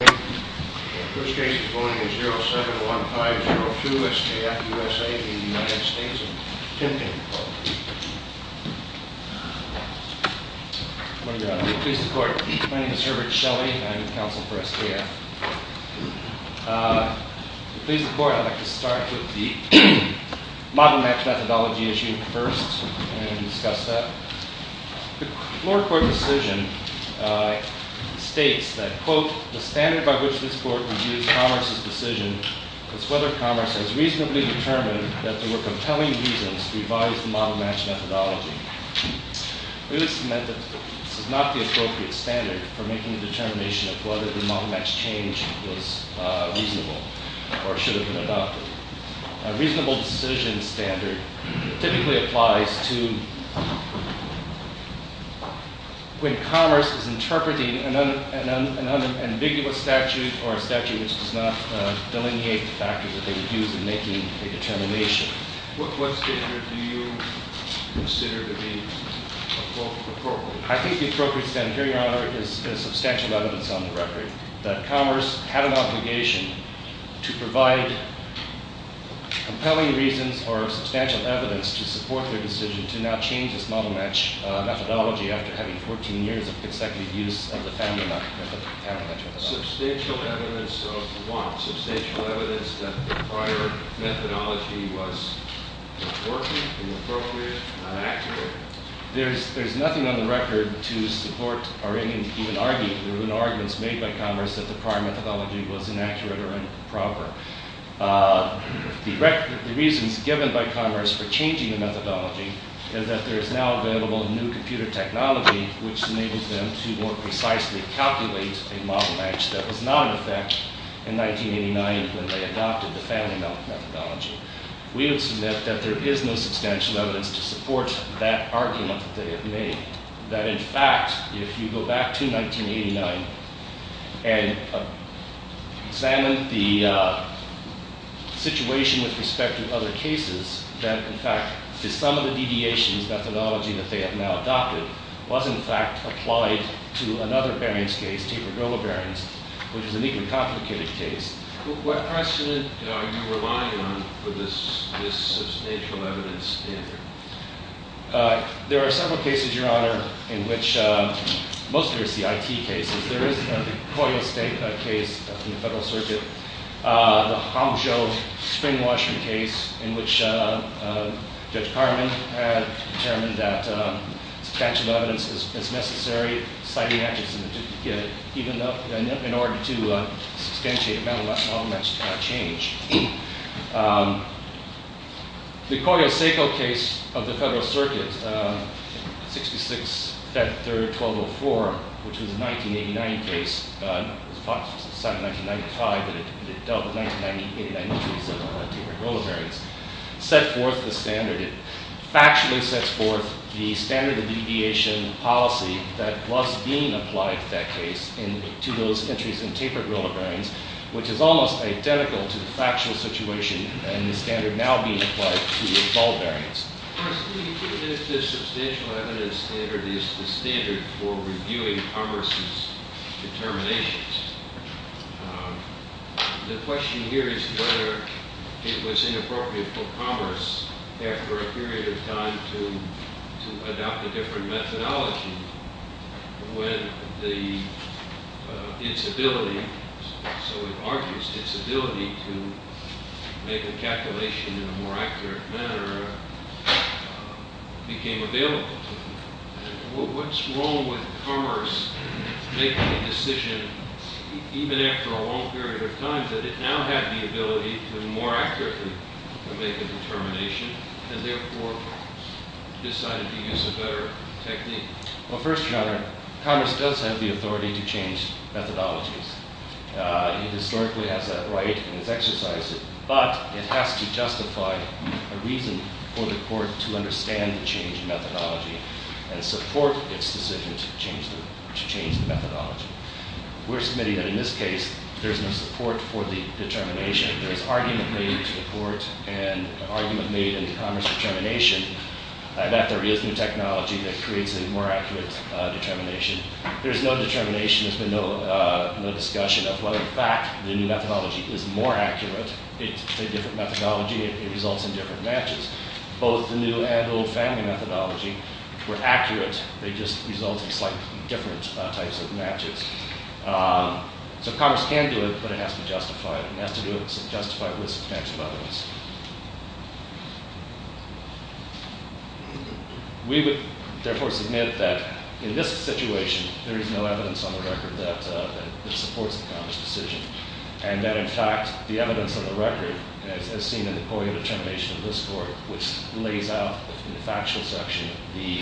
I'm going to please the court. My name is Herbert Shelley and I'm the counsel for SKF. To please the court, I'd like to start with the model-match methodology issue first and discuss that. The floor court decision states that, quote, the standard by which this court reviews Commerce's decision is whether Commerce has reasonably determined that there were compelling reasons to revise the model-match methodology. This meant that this is not the appropriate standard for making a determination of whether the model-match change was reasonable or should have been adopted. A reasonable decision standard typically applies to when Commerce is interpreting an unambiguous statute or a statute which does not delineate the factors that they would use in making a determination. What standard do you consider to be appropriate? I think the appropriate standard, Your Honor, is substantial evidence on the record that Commerce had an obligation to provide compelling reasons or substantial evidence to support their decision to now change this model-match methodology after having 14 years of consecutive use of the family model-match methodology. Substantial evidence of what? Substantial evidence that the prior methodology was inappropriate, inappropriate, and inaccurate? There's nothing on the record to support or even argue. There have been arguments made by Commerce that the prior methodology was inaccurate or improper. The reasons given by Commerce for changing the methodology is that there is now available new computer technology which enables them to more precisely calculate a model-match that was not in effect in 1989 when they adopted the family methodology. We would submit that there is no substantial evidence to support that argument that they have made, that in fact, if you go back to 1989 and examine the situation with respect to other cases, that in fact, to some of the deviations methodology that they have now adopted was, in fact, applied to another Barron's case, Taper-Gilbert Barron's, which is an even complicated case. What precedent are you relying on for this substantial evidence standard? There are several cases, Your Honor, in which most of it is the IT cases. There is the Koyo-Seiko case in the Federal Circuit, the Hangzhou spring-washing case in which Judge Carman had determined that substantial evidence is necessary, citing actions in order to substantiate a model-match change. The Koyo-Seiko case of the Federal Circuit, 66, Feb. 3, 1204, which was a 1989 case, it was signed in 1995, but it dealt with 1989 entries in Taper-Gilbert Barron's, set forth the standard. It factually sets forth the standard of deviation policy that was being applied to that case, to those entries in Taper-Gilbert Barron's, which is almost identical to the factual situation and the standard now being applied to all Barron's. First, do you think that this substantial evidence standard is the standard for reviewing commerce's determinations? The question here is whether it was inappropriate for commerce, after a period of time, to adopt a different methodology when its ability, so it argues its ability, to make a calculation in a more accurate manner became available to it. What's wrong with commerce making a decision, even after a long period of time, that it now had the ability to more accurately make a determination, and therefore decided to use a better technique? Well, first, Your Honor, commerce does have the authority to change methodologies. It historically has that right and has exercised it, but it has to justify a reason for the court to understand the change in methodology and support its decision to change the methodology. We're submitting that in this case, there's no support for the determination. There's argument made to the court and argument made in the commerce determination that there is new technology that creates a more accurate determination. There's no determination. There's been no discussion of whether, in fact, the new methodology is more accurate. It's a different methodology. It results in different matches. Both the new and old family methodology were accurate. They just result in slightly different types of matches. So commerce can do it, but it has to justify it, and it has to do it with substantive evidence. We would, therefore, submit that in this situation, there is no evidence on the record that supports the commerce decision, and that, in fact, the evidence on the record, as seen in the point of determination of this court, which lays out in the factual section the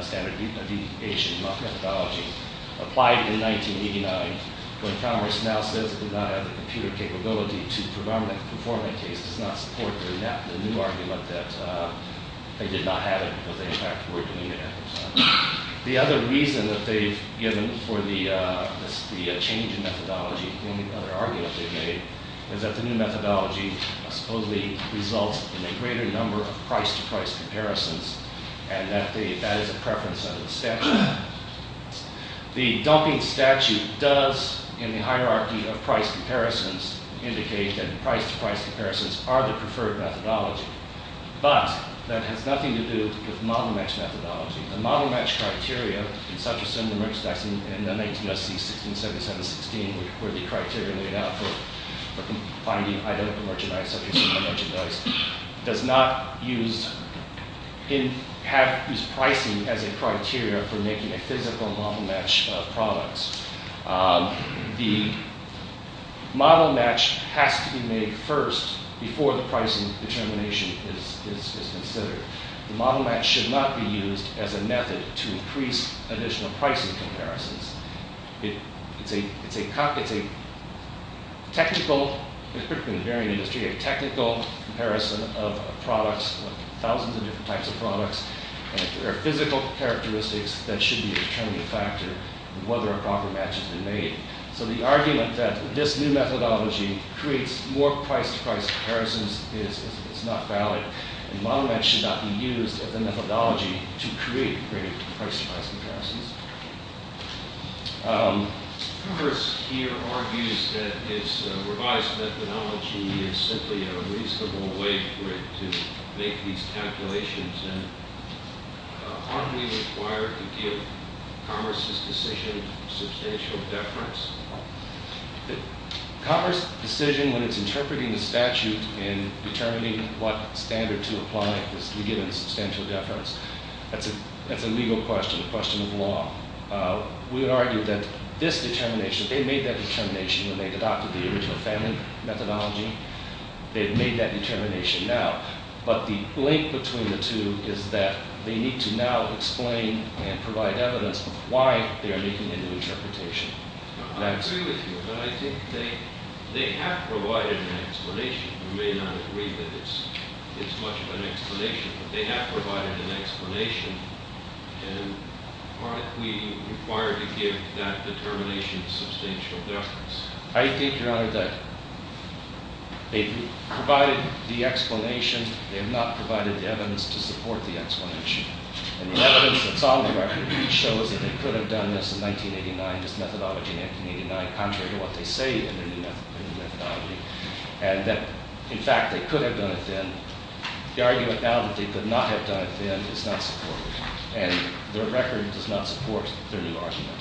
standard deification methodology, applied in 1989 when commerce now says it did not have the computer capability to perform it. So in that case, it does not support the new argument that they did not have it because they, in fact, were doing it. The other reason that they've given for the change in methodology, the only other argument they've made, is that the new methodology supposedly results in a greater number of price-to-price comparisons, and that is a preference under the statute. The dumping statute does, in the hierarchy of price comparisons, indicate that price-to-price comparisons are the preferred methodology, but that has nothing to do with model-match methodology. The model-match criteria, in such a similar context in 19 SC 1677-16, where the criteria laid out for finding identical merchandise, does not use pricing as a criteria for making a physical model-match product. The model-match has to be made first before the pricing determination is considered. The model-match should not be used as a method to increase additional pricing comparisons. It's a technical comparison of products, thousands of different types of products, and there are physical characteristics that should be a determining factor in whether a proper match has been made. So the argument that this new methodology creates more price-to-price comparisons is not valid. The model-match should not be used as a methodology to create greater price-to-price comparisons. Commerce here argues that its revised methodology is simply a reasonable way for it to make these calculations, and aren't we required to give Commerce's decision substantial deference? Commerce's decision when it's interpreting the statute in determining what standard to apply is to be given substantial deference. That's a legal question, a question of law. We would argue that this determination, they made that determination when they adopted the original family methodology. They've made that determination now, but the link between the two is that they need to now explain and provide evidence why they are making a new interpretation. I agree with you, but I think they have provided an explanation. You may not agree that it's much of an explanation, but they have provided an explanation, and aren't we required to give that determination substantial deference? I think, Your Honor, that they've provided the explanation. They have not provided the evidence to support the explanation. And the evidence that's on the record shows that they could have done this in 1989, this methodology in 1989, contrary to what they say in their new methodology, and that, in fact, they could have done it then. The argument now that they could not have done it then is not supported, and the record does not support their new argument.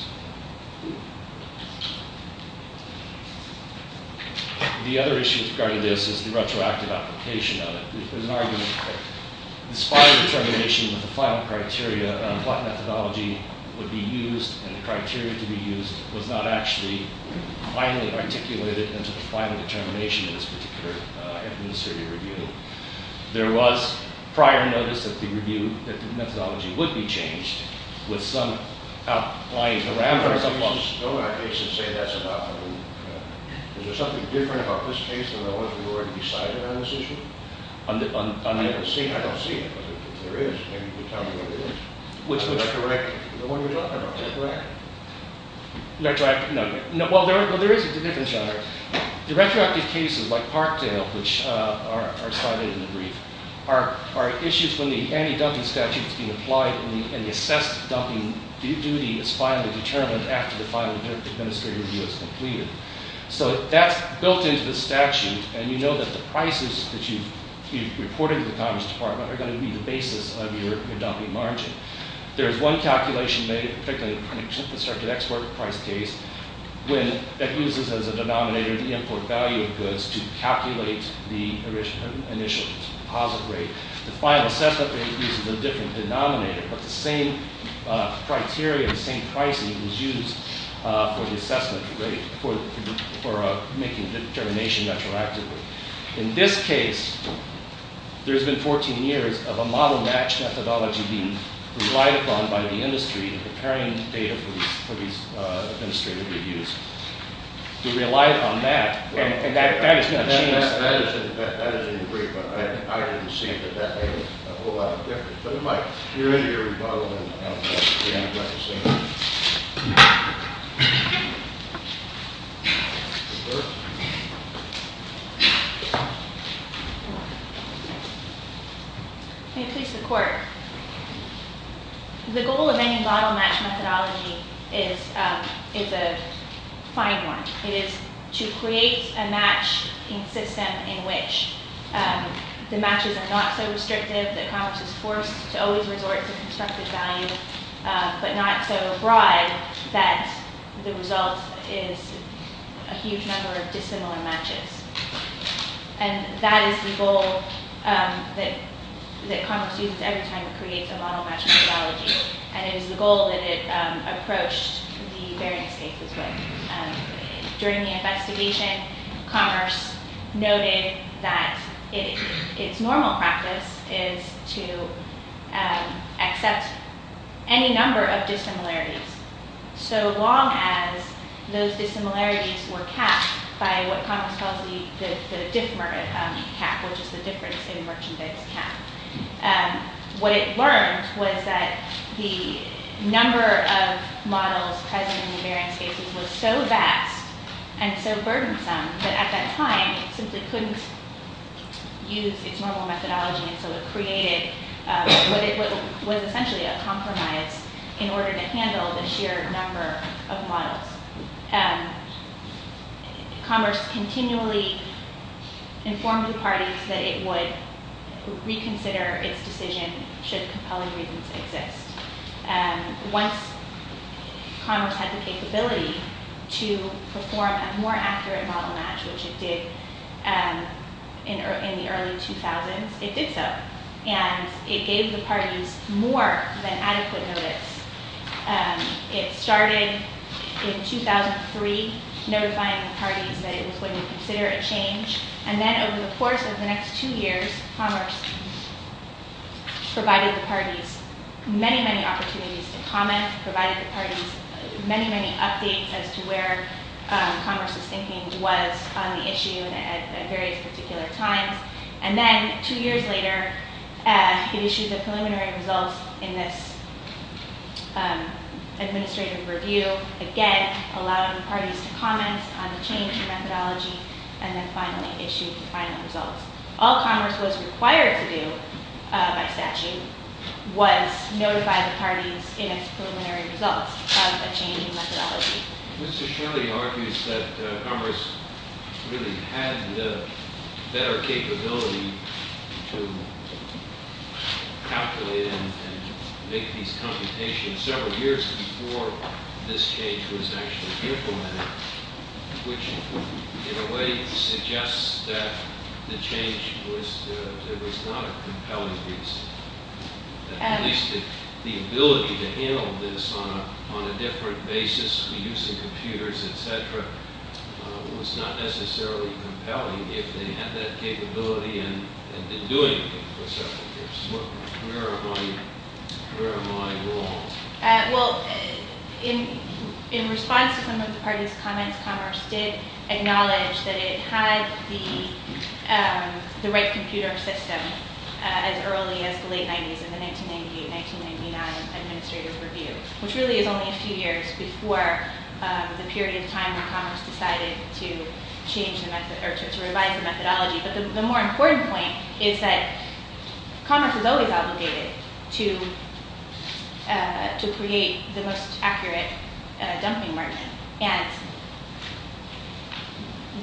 The other issue with regard to this is the retroactive application of it. There's an argument that in spite of the determination that the final criteria on what methodology would be used and the criteria to be used was not actually finally articulated into the final determination in this particular administrative review. There was prior notice of the review that the methodology would be changed with some outlying parameters. Is there something different about this case than what was already decided on this issue? I don't see it, but if there is, maybe you could tell me what it is. Which one? The one you're talking about, is that correct? Well, there is a difference, Your Honor. The retroactive cases, like Parkdale, which are cited in the brief, are issues when the anti-dumping statute is being applied and the assessed dumping duty is finally determined after the final administrative review is completed. So that's built into the statute, and you know that the prices that you've reported to the Congress Department are going to be the basis of your dumping margin. There is one calculation made, particularly in the constructed export price case, that uses as a denominator the import value of goods to calculate the initial deposit rate. The final assessment uses a different denominator, but the same criteria, the same pricing is used for the assessment rate for making the determination retroactively. In this case, there's been 14 years of a model-match methodology being relied upon by the industry in preparing data for these administrative reviews. We relied on that, and that is going to change. That is in the brief, but I didn't see that that made a whole lot of difference. But it might. You're in your rebuttal, and I don't know if you're going to regret the same thing. May it please the Court. The goal of any model-match methodology is a fine one. It is to create a matching system in which the matches are not so restrictive that Congress is forced to always resort to constructed value, but not so broad that the result is a huge number of dissimilar matches. And that is the goal that Congress uses every time it creates a model-match methodology, and it is the goal that it approached the variance cases with. During the investigation, Congress noted that its normal practice is to accept any number of dissimilarities, so long as those dissimilarities were capped by what Congress calls the difference in merchandise cap. What it learned was that the number of models present in the variance cases was so vast and so burdensome that at that time it simply couldn't use its normal methodology, and so it created what was essentially a compromise in order to handle the sheer number of models. Congress continually informed the parties that it would reconsider its decision should compelling reasons exist. Once Congress had the capability to perform a more accurate model-match, which it did in the early 2000s, it did so. And it gave the parties more than adequate notice. It started in 2003, notifying the parties that it was going to consider a change. And then over the course of the next two years, Congress provided the parties many, many opportunities to comment, provided the parties many, many updates as to where Congress's thinking was on the issue at various particular times. And then two years later, it issued the preliminary results in this administrative review, again allowing the parties to comment on the change in methodology, and then finally issued the final results. All Congress was required to do by statute was notify the parties in its preliminary results of a change in methodology. Mr. Shirley argues that Congress really had the better capability to calculate and make these computations several years before this change was actually implemented, which in a way suggests that the change was not a compelling reason. At least the ability to handle this on a different basis, reducing computers, et cetera, was not necessarily compelling. If they had that capability and had been doing it for several years, where am I wrong? Well, in response to some of the parties' comments, Congress did acknowledge that it had the right computer system as early as the late 90s in the 1998-1999 administrative review, which really is only a few years before the period of time when Congress decided to revise the methodology. But the more important point is that Congress is always obligated to create the most accurate dumping market. And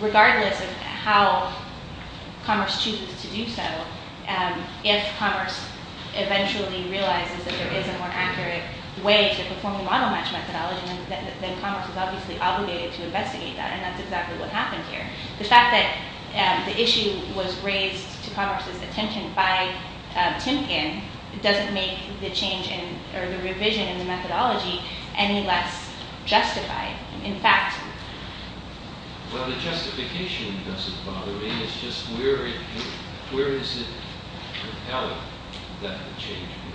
regardless of how Commerce chooses to do so, if Commerce eventually realizes that there is a more accurate way to perform a model-match methodology, then Commerce is obviously obligated to investigate that, and that's exactly what happened here. The fact that the issue was raised to Commerce's attention by Timkin doesn't make the revision of the methodology any less justified, in fact. Well, the justification doesn't bother me. It's just where is it compelling that the change was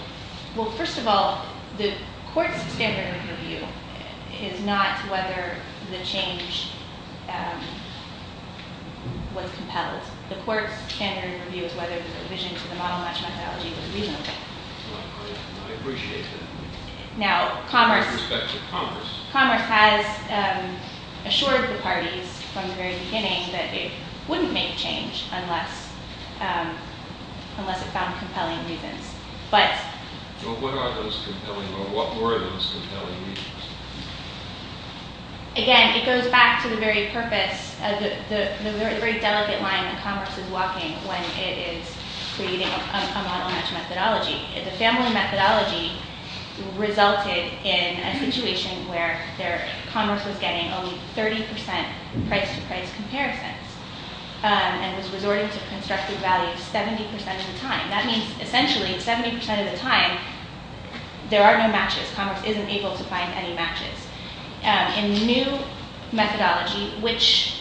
made? Well, first of all, the Court's standard review is not whether the change was compelled. The Court's standard review is whether the revision to the model-match methodology was reasonable. I appreciate that. Now, Commerce has assured the parties from the very beginning that it wouldn't make change unless it found compelling reasons. Well, what are those compelling or what were those compelling reasons? Again, it goes back to the very purpose, the very delicate line that Commerce is walking when it is creating a model-match methodology. The family methodology resulted in a situation where Commerce was getting only 30% price-to-price comparisons and was resorting to constructive values 70% of the time. That means essentially 70% of the time there are no matches. Commerce isn't able to find any matches. In the new methodology, which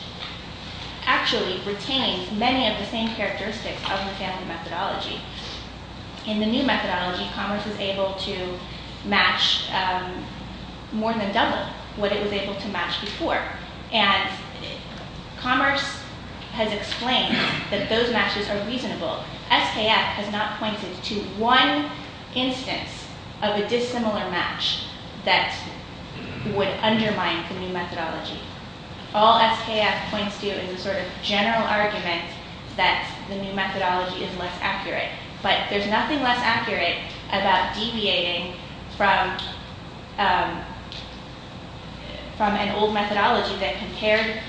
actually retains many of the same characteristics of the family methodology, in the new methodology Commerce is able to match more than double what it was able to match before. Commerce has explained that those matches are reasonable. SKF has not pointed to one instance of a dissimilar match that would undermine the new methodology. All SKF points to is a sort of general argument that the new methodology is less accurate. But there's nothing less accurate about deviating from an old methodology that compared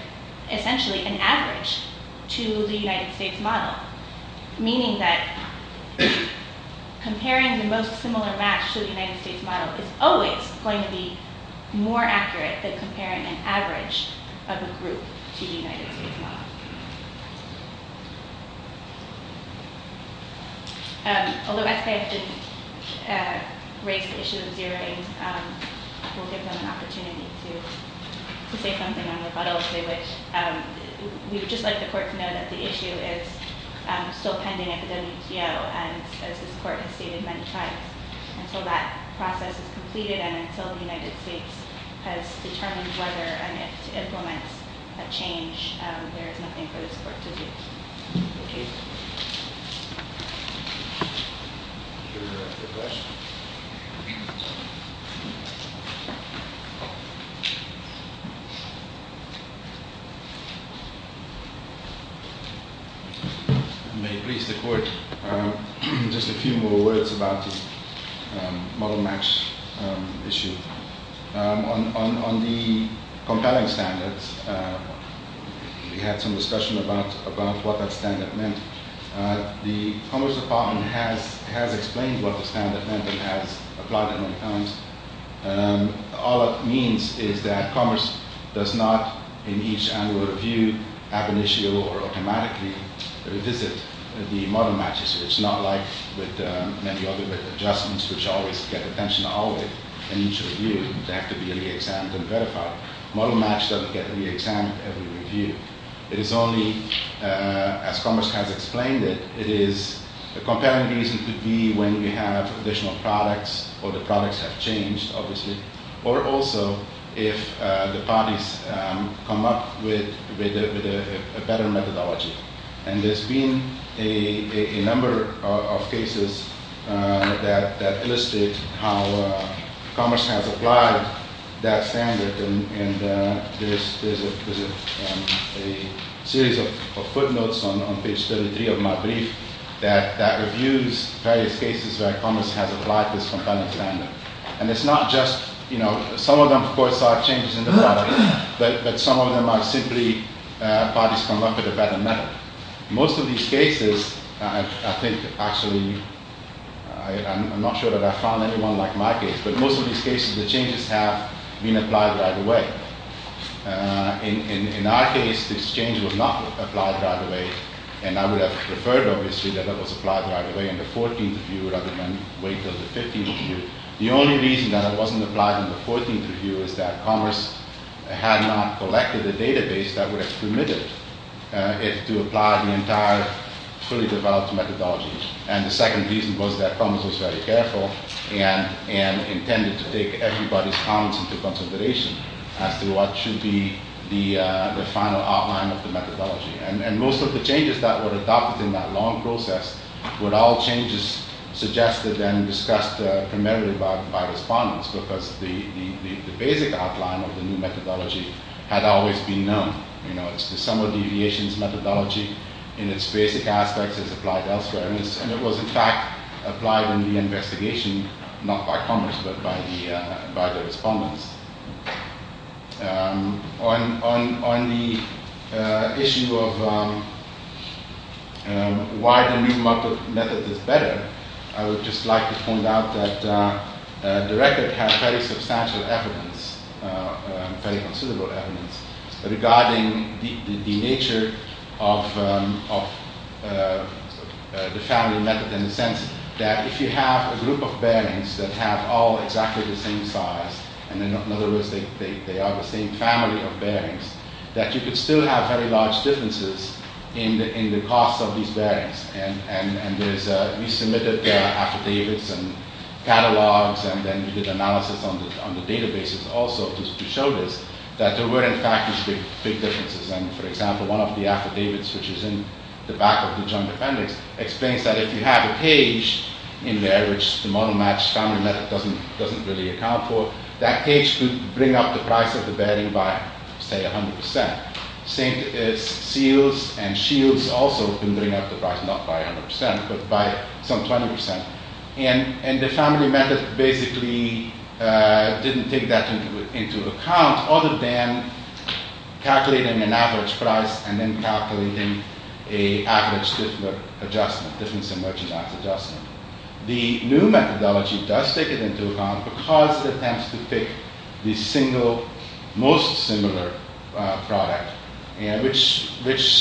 essentially an average to the United States model. Meaning that comparing the most similar match to the United States model is always going to be more accurate than comparing an average of a group to the United States model. Although SKF didn't raise the issue of zeroing, we'll give them an opportunity to say something on rebuttal if they wish. We would just like the Court to know that the issue is still pending at the WTO and as this Court has stated many times, until that process is completed and until the United States has determined whether and if to implement a change, there is nothing for this Court to do. Thank you. Any further questions? May it please the Court, just a few more words about the model match issue. On the compelling standards, we had some discussion about what that standard meant. The Commerce Department has explained what the standard meant and has applied it many times. All it means is that Commerce does not, in each annual review, have an issue or automatically revisit the model matches. It's not like with many other adjustments which always get attention in each review. They have to be re-examined and verified. Model match doesn't get re-examined every review. It is only, as Commerce has explained it, it is a compelling reason to be when we have additional products or the products have changed, obviously, or also if the parties come up with a better methodology. There's been a number of cases that illustrate how Commerce has applied that standard. There's a series of footnotes on page 33 of my brief that reviews various cases where Commerce has applied this compelling standard. Some of them, of course, are changes in the product, but some of them are simply parties come up with a better method. Most of these cases, I think, actually, I'm not sure that I've found anyone like my case, but most of these cases, the changes have been applied right away. In our case, this change was not applied right away, and I would have preferred, obviously, that it was applied right away in the 14th review rather than wait until the 15th review. The only reason that it wasn't applied in the 14th review is that Commerce had not collected the database that would have permitted it to apply the entire fully developed methodology. The second reason was that Commerce was very careful and intended to take everybody's comments into consideration as to what should be the final outline of the methodology. Most of the changes that were adopted in that long process were all changes suggested and discussed primarily by respondents because the basic outline of the new methodology had always been known. It's the sum of deviations methodology in its basic aspects is applied elsewhere, and it was, in fact, applied in the investigation, not by Commerce, but by the respondents. On the issue of why the new method is better, I would just like to point out that the record has very substantial evidence, very considerable evidence, regarding the nature of the family method in the sense that if you have a group of bearings that have all exactly the same size, and in other words, they are the same family of bearings, that you could still have very large differences in the cost of these bearings. We submitted affidavits and catalogs, and then we did analysis on the databases also to show this, that there were, in fact, big differences. For example, one of the affidavits, which is in the back of the joint appendix, explains that if you have a cage in there, which the model-matched family method doesn't really account for, that cage could bring up the price of the bearing by, say, 100%. Same is seals and shields also can bring up the price, not by 100%, but by some 20%. And the family method basically didn't take that into account, other than calculating an average price and then calculating an average adjustment, difference in merchandise adjustment. The new methodology does take it into account because it attempts to pick the single most similar product, which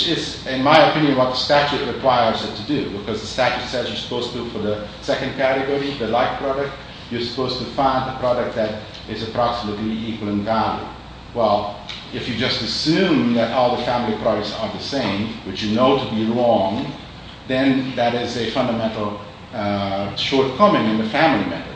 is, in my opinion, what the statute requires it to do, because the statute says you're supposed to, for the second category, the like product, you're supposed to find the product that is approximately equal in value. Well, if you just assume that all the family products are the same, which you know to be wrong, then that is a fundamental shortcoming in the family method.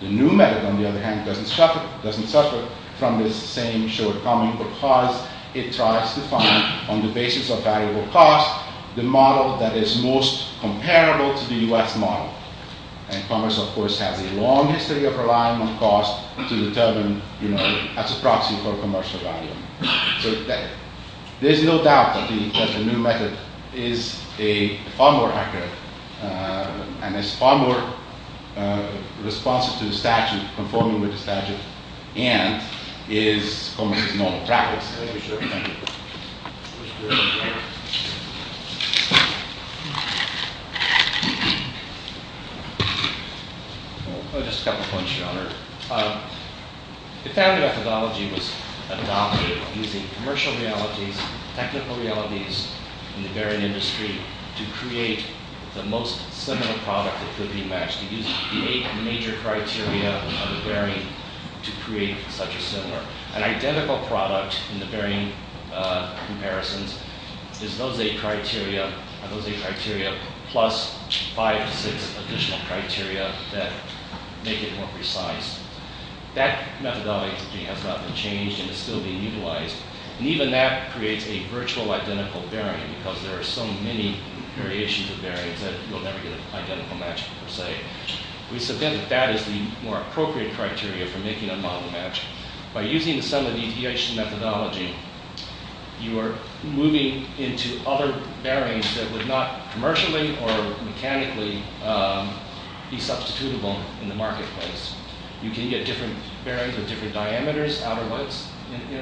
The new method, on the other hand, doesn't suffer from this same shortcoming because it tries to find, on the basis of valuable cost, the model that is most comparable to the U.S. model. And commerce, of course, has a long history of relying on cost to determine, as a proxy for commercial value. So there's no doubt that the new method is a far more accurate and is far more responsive to the statute, conforming with the statute, and is commerce's normal practice. Just a couple of points, Your Honor. The family methodology was adopted using commercial realities, technical realities in the bearing industry, to create the most similar product that could be matched. We used the eight major criteria of the bearing to create such a similar. An identical product in the bearing comparisons is those eight criteria plus five to six additional criteria that make it more precise. That methodology has not been changed and is still being utilized. And even that creates a virtual identical bearing because there are so many variations of bearings that you'll never get an identical match, per se. We submit that that is the more appropriate criteria for making a model match. By using some of these EHC methodology, you are moving into other bearings that would not commercially or mechanically be substitutable in the marketplace. You can get different bearings with different diameters, outer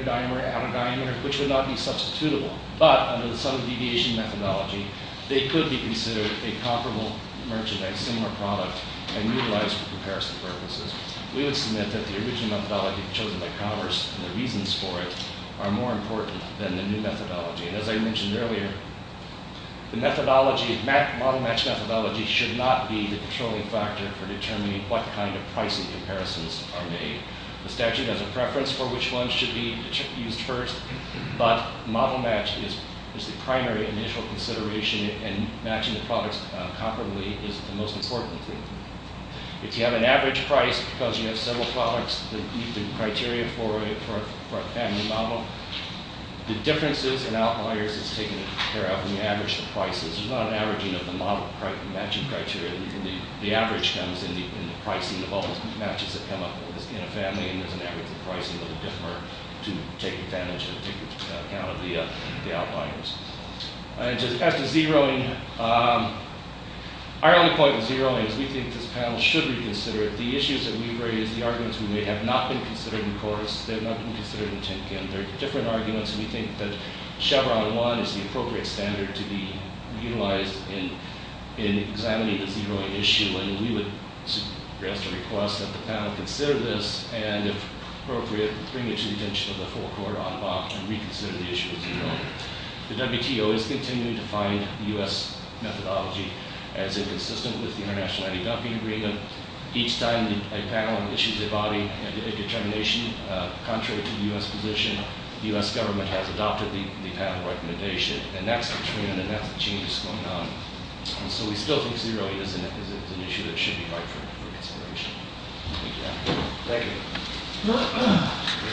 diameter, which would not be substitutable. But under the sudden deviation methodology, they could be considered a comparable merchandise, similar product, and utilized for comparison purposes. We would submit that the original methodology chosen by commerce and the reasons for it are more important than the new methodology. And as I mentioned earlier, the methodology, model match methodology should not be the controlling factor for determining what kind of pricing comparisons are made. The statute has a preference for which one should be used first, but model match is the primary initial consideration and matching the products comparably is the most important thing. If you have an average price, because you have several products that meet the criteria for a family model, the differences in outliers is taken care of when you average the prices. There's not an averaging of the model matching criteria. The average comes in the pricing of all the matches that come up in a family, and there's an average of pricing that will differ to take advantage or take account of the outliers. As to zeroing, our only point with zeroing is we think this panel should reconsider it. The issues that we've raised, the arguments we made, have not been considered in court. They have not been considered in Tinkin. They're different arguments, and we think that Chevron 1 is the appropriate standard to be utilized in examining the zeroing issue. And we would request that the panel consider this and, if appropriate, bring it to the attention of the full court on Bach and reconsider the issue of zeroing. The WTO is continuing to find the U.S. methodology as inconsistent with the international IDW agreement. Each time a panel issues a body, a determination contrary to the U.S. position, the U.S. government has adopted the panel recommendation. And that's the trend, and that's the change that's going on. And so we still think zeroing is an issue that should be right for consideration. Thank you.